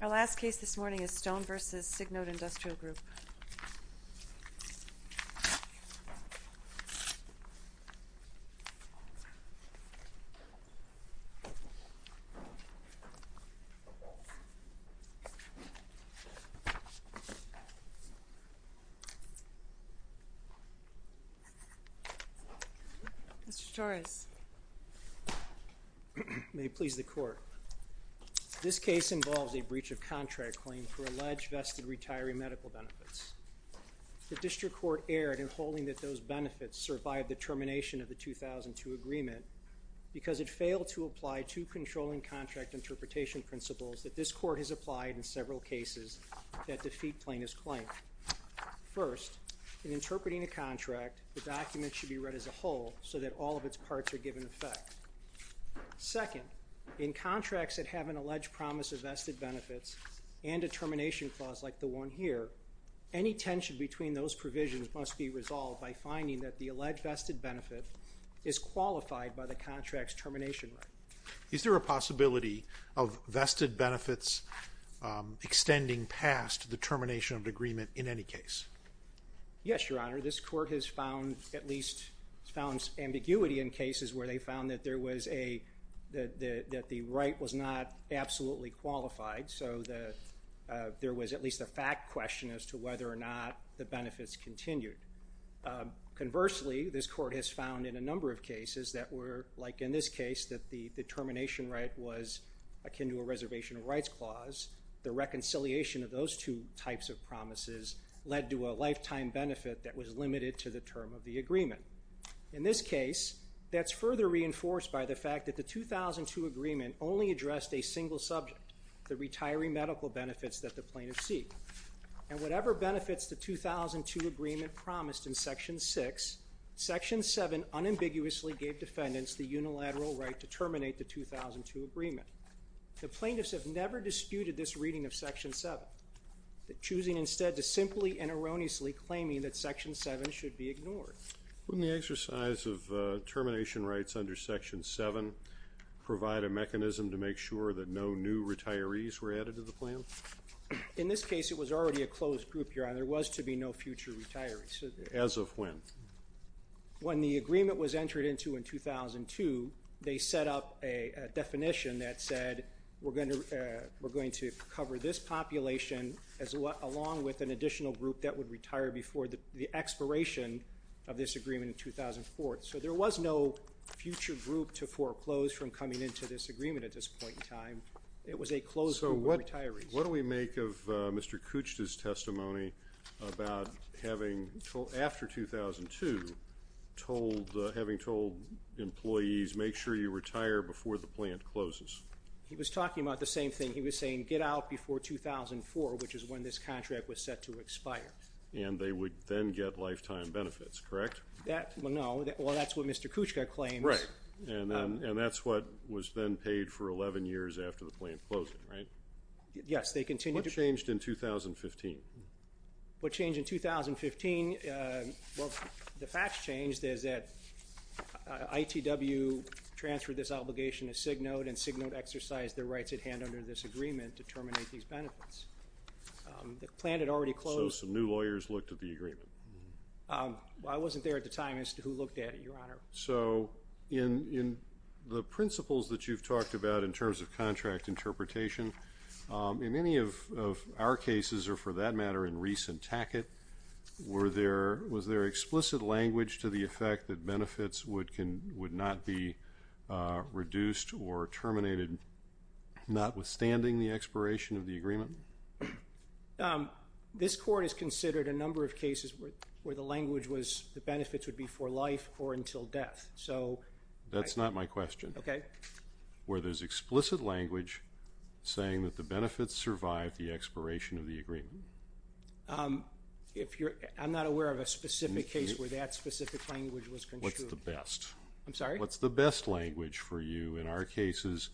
Our last case this morning is Stone v. Signode Industrial Group. Mr. Torres. May it please the Court. This case involves a breach of contract claim for alleged vested retiree medical benefits. The District Court erred in holding that those benefits survived the termination of the 2002 agreement because it failed to apply two controlling contract interpretation principles that this Court has applied in several cases that defeat plaintiff's claim. First, in interpreting a contract, the document should be read as a whole so that all of its parts are given effect. Second, in contracts that have an alleged promise of vested benefits and a termination clause like the one here, any tension between those provisions must be resolved by finding that the alleged vested benefit is qualified by the contract's termination right. Is there a possibility of vested benefits extending past the termination of the agreement in any case? Yes, Your Honor. This Court has found at least ambiguity in cases where they found that the right was not absolutely qualified, so there was at least a fact question as to whether or not the benefits continued. Conversely, this Court has found in a number of cases that were, like in this case, that the termination right was akin to a reservation of rights clause. The reconciliation of those two types of promises led to a lifetime benefit that was limited to the term of the agreement. In this case, that's further reinforced by the fact that the 2002 agreement only addressed a single subject, the retiree medical benefits that the plaintiff seek. And whatever benefits the 2002 agreement promised in Section 6, Section 7 unambiguously gave defendants the unilateral right to terminate the 2002 agreement. The plaintiffs have never disputed this reading of Section 7, choosing instead to simply and erroneously claim that Section 7 should be ignored. Wouldn't the exercise of termination rights under Section 7 provide a mechanism to make sure that no new retirees were added to the plan? In this case, it was already a closed group, Your Honor. There was to be no future retirees. As of when? When the agreement was entered into in 2002, they set up a definition that said we're going to cover this population along with an additional group that would retire before the expiration of this agreement in 2004. So there was no future group to foreclose from coming into this agreement at this point in time. It was a closed group of retirees. So what do we make of Mr. Kuchta's testimony about having, after 2002, having told employees make sure you retire before the plant closes? He was talking about the same thing. He was saying get out before 2004, which is when this contract was set to expire. And they would then get lifetime benefits, correct? No. Well, that's what Mr. Kuchta claims. Right. And that's what was then paid for 11 years after the plant closed, right? Yes, they continued to pay. What changed in 2015? What changed in 2015? Well, the facts changed is that ITW transferred this obligation to Cignote, and Cignote exercised their rights at hand under this agreement to terminate these benefits. The plant had already closed. So some new lawyers looked at the agreement? I wasn't there at the time as to who looked at it, Your Honor. So in the principles that you've talked about in terms of contract interpretation, in many of our cases or, for that matter, in Reese and Tackett, was there explicit language to the effect that benefits would not be reduced or terminated notwithstanding the expiration of the agreement? This Court has considered a number of cases where the language was the benefits would be for life or until death, so. That's not my question. Okay. Where there's explicit language saying that the benefits survive the expiration of the agreement. I'm not aware of a specific case where that specific language was construed. What's the best? I'm sorry? What's the best language for you in our cases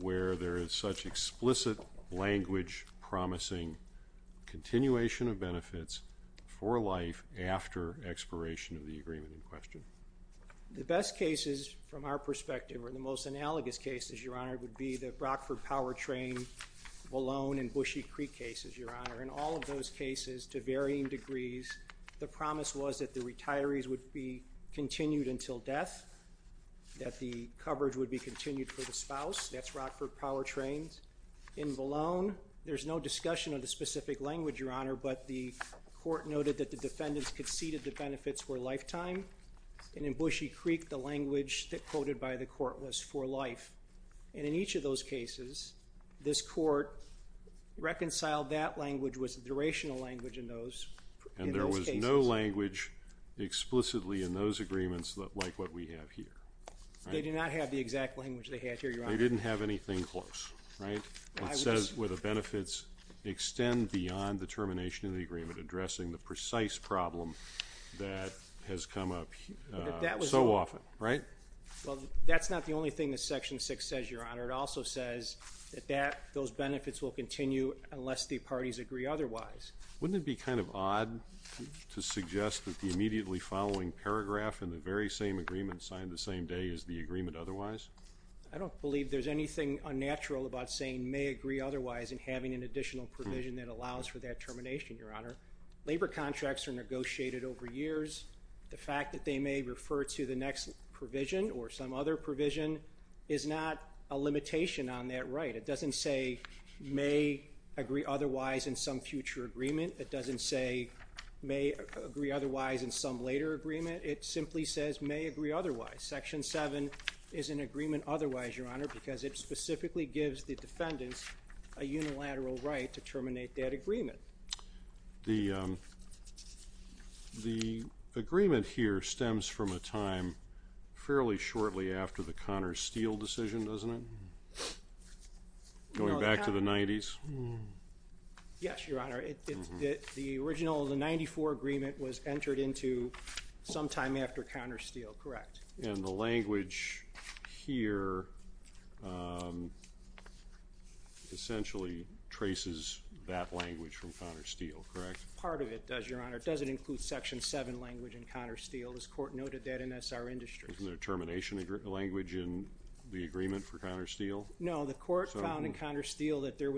where there is such explicit language promising continuation of benefits for life after expiration of the agreement in question? The best cases from our perspective or the most analogous cases, Your Honor, would be the Rockford Powertrain, Valone, and Bushy Creek cases, Your Honor. In all of those cases, to varying degrees, the promise was that the retirees would be continued until death, that the coverage would be continued for the spouse. That's Rockford Powertrains. In Valone, there's no discussion of the specific language, Your Honor, but the court noted that the defendants conceded the benefits were lifetime. And in Bushy Creek, the language quoted by the court was for life. And in each of those cases, this court reconciled that language was a durational language in those cases. And there was no language explicitly in those agreements like what we have here. They didn't have anything close, right? It says where the benefits extend beyond the termination of the agreement, addressing the precise problem that has come up so often, right? Well, that's not the only thing that Section 6 says, Your Honor. It also says that those benefits will continue unless the parties agree otherwise. Wouldn't it be kind of odd to suggest that the immediately following paragraph in the very same agreement signed the same day is the agreement otherwise? I don't believe there's anything unnatural about saying may agree otherwise and having an additional provision that allows for that termination, Your Honor. Labor contracts are negotiated over years. The fact that they may refer to the next provision or some other provision is not a limitation on that right. It doesn't say may agree otherwise in some future agreement. It doesn't say may agree otherwise in some later agreement. It simply says may agree otherwise. Section 7 is an agreement otherwise, Your Honor, because it specifically gives the defendants a unilateral right to terminate that agreement. The agreement here stems from a time fairly shortly after the Connor Steele decision, doesn't it? Going back to the 90s? Yes, Your Honor. The original of the 94 agreement was entered into sometime after Connor Steele, correct? And the language here essentially traces that language from Connor Steele, correct? Part of it does, Your Honor. It doesn't include Section 7 language in Connor Steele. This court noted that in S.R. Industries. Isn't there a termination language in the agreement for Connor Steele? No. The court found in Connor Steele that there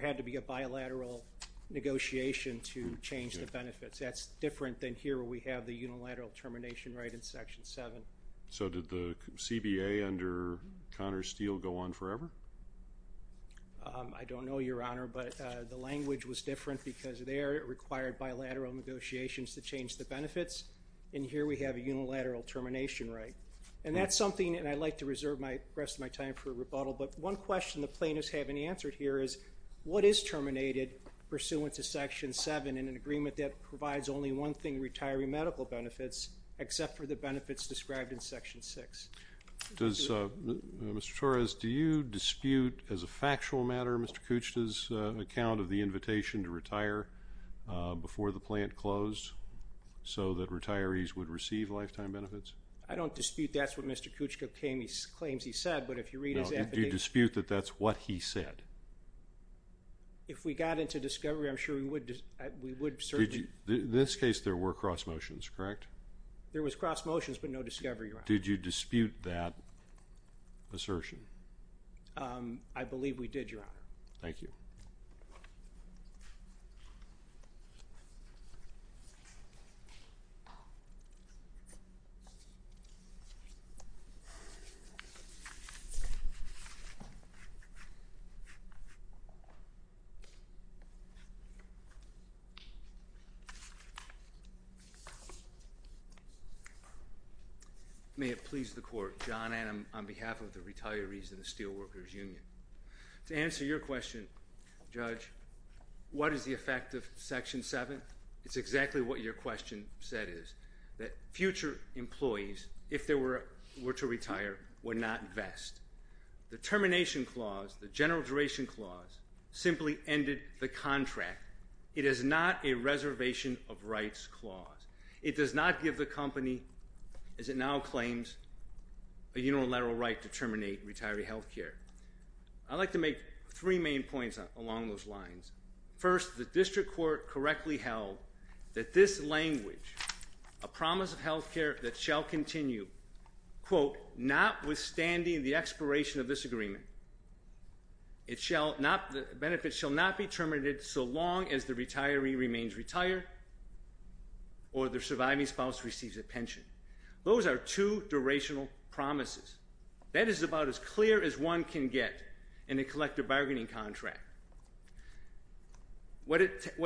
had to be a bilateral negotiation to change the benefits. That's different than here where we have the unilateral termination right in Section 7. So did the CBA under Connor Steele go on forever? I don't know, Your Honor, but the language was different because there it required bilateral negotiations to change the benefits, and here we have a unilateral termination right. And that's something, and I'd like to reserve the rest of my time for rebuttal, but one question the plaintiffs haven't answered here is, what is terminated pursuant to Section 7 in an agreement that provides only one thing, retiree medical benefits, except for the benefits described in Section 6? Mr. Torres, do you dispute, as a factual matter, Mr. Kuchta's account of the invitation to retire before the plant closed so that retirees would receive lifetime benefits? I don't dispute that's what Mr. Kuchta claims he said, but if you read his affidavit. Do you dispute that that's what he said? If we got into discovery, I'm sure we would certainly. In this case, there were cross motions, correct? There was cross motions, but no discovery, Your Honor. Did you dispute that assertion? I believe we did, Your Honor. Thank you. May it please the Court. John Adam on behalf of the retirees in the Steelworkers Union. To answer your question, Judge, what is the effect of Section 7? It's exactly what your question said is, that future employees, if they were to retire, would not vest. The termination clause, the general duration clause, simply ended the contract. It is not a reservation of rights clause. It does not give the company, as it now claims, a unilateral right to terminate retiree health care. I'd like to make three main points along those lines. First, the district court correctly held that this language, a promise of health care that shall continue, quote, notwithstanding the expiration of this agreement, benefits shall not be terminated so long as the retiree remains retired or their surviving spouse receives a pension. Those are two durational promises. That is about as clear as one can get in a collective bargaining contract. What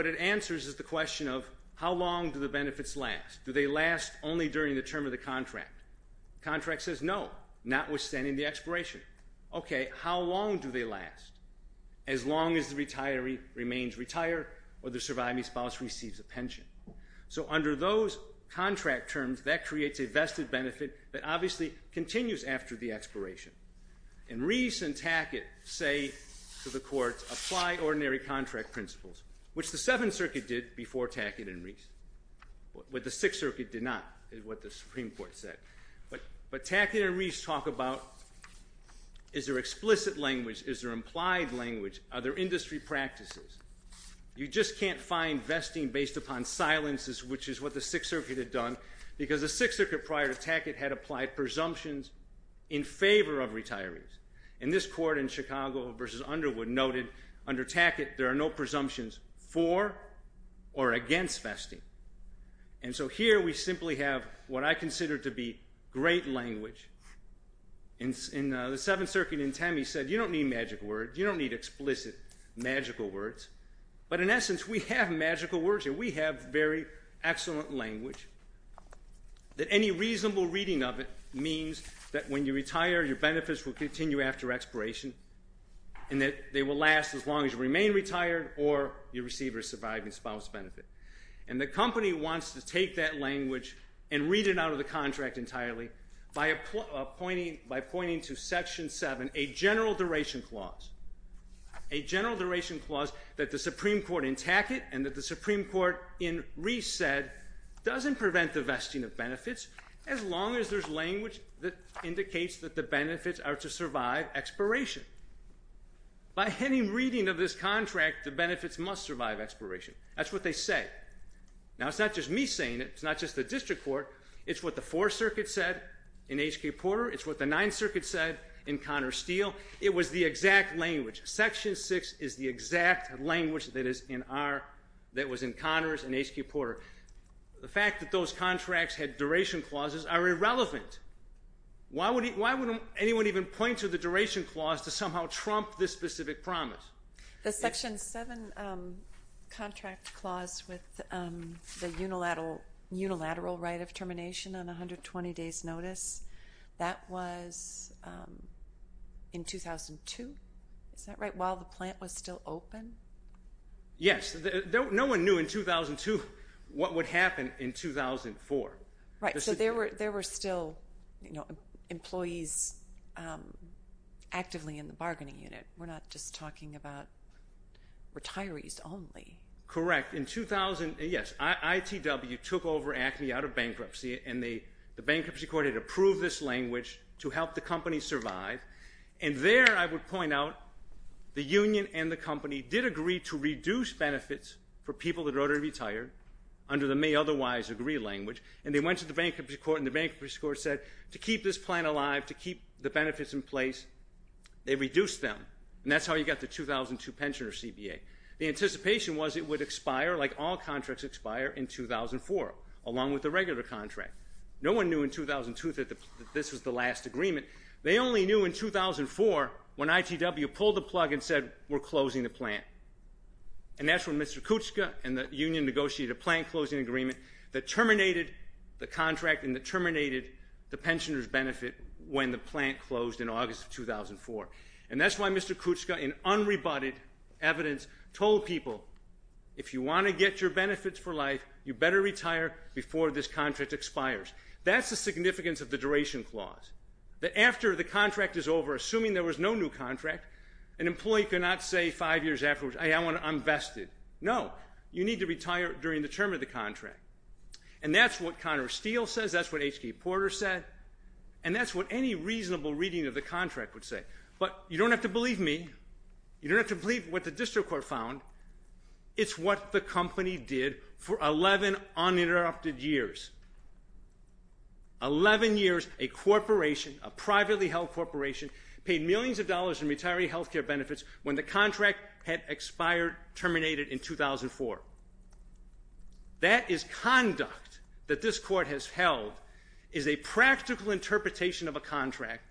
it answers is the question of how long do the benefits last. Do they last only during the term of the contract? The contract says no, notwithstanding the expiration. Okay, how long do they last? As long as the retiree remains retired or their surviving spouse receives a pension. So under those contract terms, that creates a vested benefit that obviously continues after the expiration. And Reese and Tackett say to the courts, apply ordinary contract principles, which the Seventh Circuit did before Tackett and Reese. What the Sixth Circuit did not is what the Supreme Court said. But Tackett and Reese talk about is there explicit language, is there implied language, are there industry practices? You just can't find vesting based upon silences, which is what the Sixth Circuit had done, because the Sixth Circuit prior to Tackett had applied presumptions in favor of retirees. And this court in Chicago v. Underwood noted under Tackett there are no presumptions for or against vesting. And so here we simply have what I consider to be great language. In the Seventh Circuit in Temme said you don't need magic words. You don't need explicit magical words. But in essence, we have magical words here. We have very excellent language that any reasonable reading of it means that when you retire your benefits will continue after expiration and that they will last as long as you remain retired or you receive a surviving spouse benefit. And the company wants to take that language and read it out of the contract entirely by pointing to Section 7, a general duration clause, a general duration clause that the Supreme Court in Tackett and that the Supreme Court in Reese said doesn't prevent the vesting of benefits as long as there's language that indicates that the benefits are to survive expiration. By any reading of this contract, the benefits must survive expiration. That's what they say. Now, it's not just me saying it. It's not just the district court. It's what the Fourth Circuit said in H.K. Porter. It's what the Ninth Circuit said in Connor Steele. It was the exact language. Section 6 is the exact language that was in Connors and H.K. Porter. The fact that those contracts had duration clauses are irrelevant. Why wouldn't anyone even point to the duration clause to somehow trump this specific promise? The Section 7 contract clause with the unilateral right of termination on 120 days' notice, that was in 2002, is that right, while the plant was still open? Yes. No one knew in 2002 what would happen in 2004. Right, so there were still employees actively in the bargaining unit. We're not just talking about retirees only. Correct. In 2000, yes, ITW took over ACME out of bankruptcy, and the bankruptcy court had approved this language to help the company survive, and there I would point out the union and the company did agree to reduce benefits for people that were already retired under the may otherwise agree language, and they went to the bankruptcy court, and the bankruptcy court said to keep this plant alive, to keep the benefits in place, they reduced them, and that's how you got the 2002 pensioner CBA. The anticipation was it would expire like all contracts expire in 2004 along with the regular contract. No one knew in 2002 that this was the last agreement. They only knew in 2004 when ITW pulled the plug and said we're closing the plant, and that's when Mr. Kuchka and the union negotiated a plant closing agreement that terminated the contract and that terminated the pensioner's benefit when the plant closed in August of 2004, and that's why Mr. Kuchka in unrebutted evidence told people if you want to get your benefits for life, you better retire before this contract expires. That's the significance of the duration clause, that after the contract is over, assuming there was no new contract, an employee cannot say five years afterwards, hey, I'm vested. No, you need to retire during the term of the contract, and that's what Connor Steele says. That's what H.K. Porter said, and that's what any reasonable reading of the contract would say, but you don't have to believe me. You don't have to believe what the district court found. It's what the company did for 11 uninterrupted years, 11 years a corporation, a privately held corporation paid millions of dollars in retiree health care benefits when the contract had expired, terminated in 2004. That is conduct that this court has held is a practical interpretation of a contract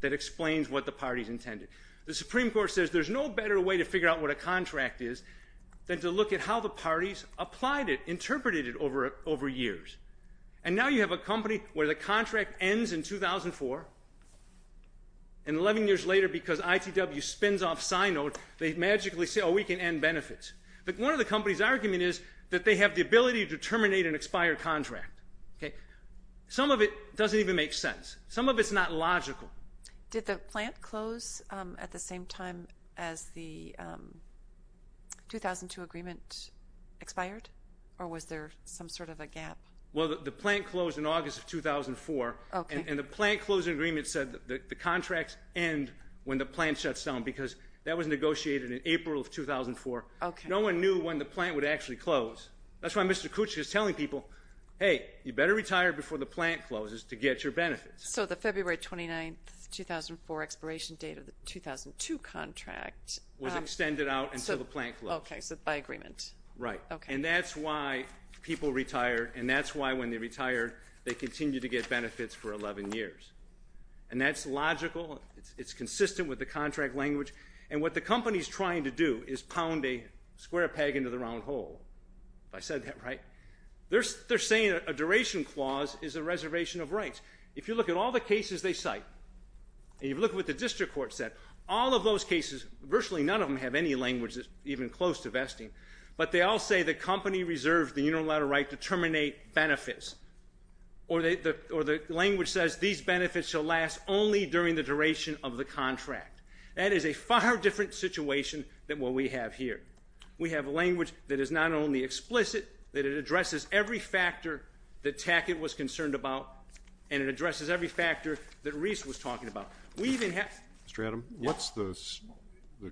that explains what the parties intended. The Supreme Court says there's no better way to figure out what a contract is than to look at how the parties applied it, interpreted it over years, and now you have a company where the contract ends in 2004, and 11 years later because ITW spins off Sinode, they magically say, oh, we can end benefits. One of the company's argument is that they have the ability to terminate an expired contract. Some of it doesn't even make sense. Some of it's not logical. Did the plant close at the same time as the 2002 agreement expired, or was there some sort of a gap? Well, the plant closed in August of 2004, and the plant closing agreement said the contracts end when the plant shuts down because that was negotiated in April of 2004. No one knew when the plant would actually close. That's why Mr. Kuczyk is telling people, hey, you better retire before the plant closes to get your benefits. So the February 29, 2004 expiration date of the 2002 contract. Was extended out until the plant closed. Okay, so by agreement. Right. Okay. And that's why people retire, and that's why when they retire they continue to get benefits for 11 years. And that's logical. It's consistent with the contract language. And what the company is trying to do is pound a square peg into the round hole, if I said that right. They're saying a duration clause is a reservation of rights. If you look at all the cases they cite and you look at what the district court said, all of those cases, virtually none of them have any language that's even close to vesting, but they all say the company reserved the unilateral right to terminate benefits. Or the language says these benefits shall last only during the duration of the contract. That is a far different situation than what we have here. We have language that is not only explicit, that it addresses every factor that Tackett was concerned about, and it addresses every factor that Reese was talking about. Mr. Adam, what's the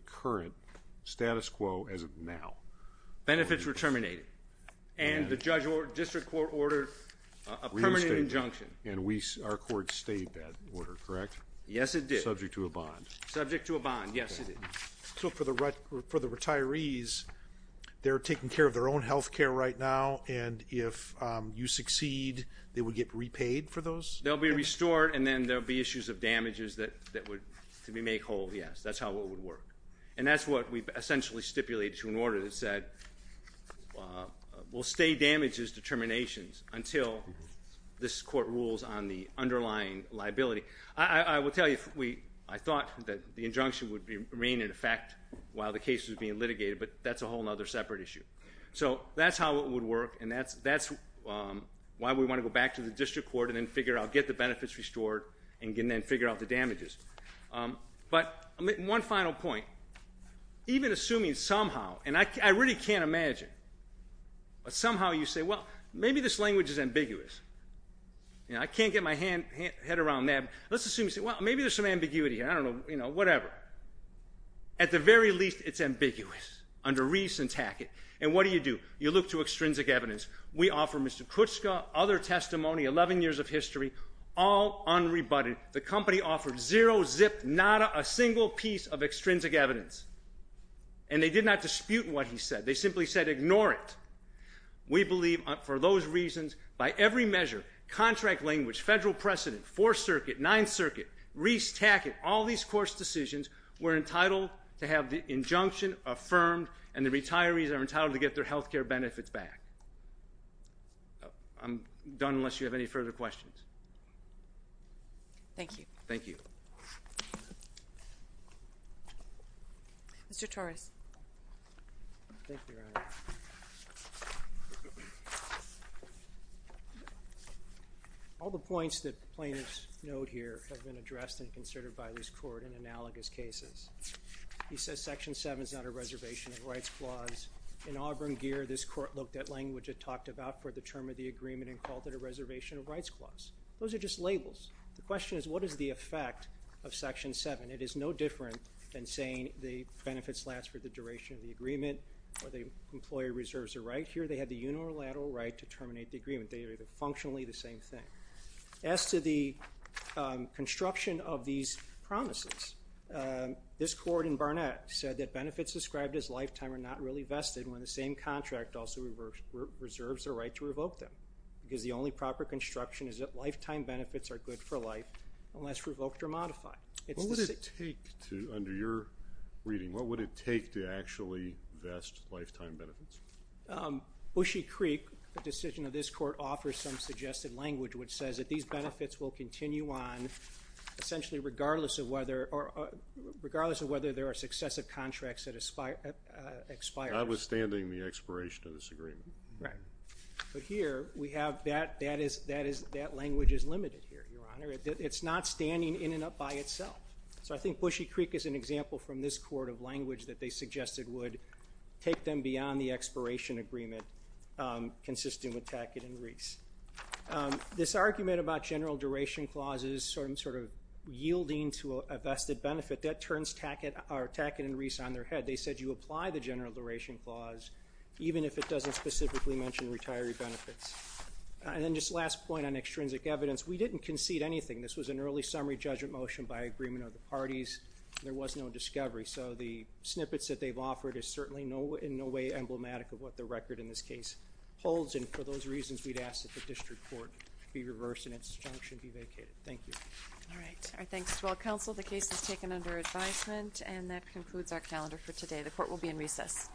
current status quo as of now? Benefits were terminated. And the district court ordered a permanent injunction. And our court stayed that order, correct? Yes, it did. Subject to a bond. Subject to a bond. Yes, it did. So for the retirees, they're taking care of their own health care right now, and if you succeed, they would get repaid for those? They'll be restored, and then there will be issues of damages that would be made whole. Yes, that's how it would work. And that's what we've essentially stipulated to an order that said, we'll stay damages determinations until this court rules on the underlying liability. I will tell you, I thought that the injunction would remain in effect while the case was being litigated, but that's a whole other separate issue. So that's how it would work, and that's why we want to go back to the district court and then figure out, get the benefits restored, and then figure out the damages. But one final point. Even assuming somehow, and I really can't imagine, but somehow you say, well, maybe this language is ambiguous. I can't get my head around that. Let's assume you say, well, maybe there's some ambiguity here. I don't know. Whatever. At the very least, it's ambiguous under re-syntactic, and what do you do? You look to extrinsic evidence. We offer Mr. Kutska other testimony, 11 years of history, all unrebutted. The company offered zero, zip, nada, a single piece of extrinsic evidence, and they did not dispute what he said. They simply said, ignore it. We believe, for those reasons, by every measure, contract language, federal precedent, Fourth Circuit, Ninth Circuit, Reese-Tackett, all these court's decisions, we're entitled to have the injunction affirmed, and the retirees are entitled to get their health care benefits back. I'm done unless you have any further questions. Thank you. Thank you. Mr. Torres. Thank you, Your Honor. All the points that plaintiffs note here have been addressed and considered by this court in analogous cases. He says Section 7 is not a reservation of rights clause. In Auburn gear, this court looked at language it talked about for the term of the agreement and called it a reservation of rights clause. Those are just labels. The question is, what is the effect of Section 7? And it is no different than saying the benefits last for the duration of the agreement or the employer reserves a right here. They have the unilateral right to terminate the agreement. They are functionally the same thing. As to the construction of these promises, this court in Barnett said that benefits described as lifetime are not really vested when the same contract also reserves a right to revoke them because the only proper construction is that lifetime benefits are good for life unless revoked or modified. Under your reading, what would it take to actually vest lifetime benefits? Bushy Creek, the decision of this court, offers some suggested language which says that these benefits will continue on, essentially regardless of whether there are successive contracts that expire. Notwithstanding the expiration of this agreement. But here, that language is limited here, Your Honor. It is not standing in and up by itself. So I think Bushy Creek is an example from this court of language that they suggested would take them beyond the expiration agreement consisting with Tackett and Reese. This argument about general duration clauses sort of yielding to a vested benefit, that turns Tackett and Reese on their head. They said you apply the general duration clause even if it doesn't specifically mention retiree benefits. And then just last point on extrinsic evidence. We didn't concede anything. This was an early summary judgment motion by agreement of the parties. There was no discovery. So the snippets that they've offered is certainly in no way emblematic of what the record in this case holds. And for those reasons, we'd ask that the district court be reversed and its junction be vacated. Thank you. All right. Our thanks to all counsel. The case is taken under advisement. And that concludes our calendar for today. The court will be in recess. Thank you.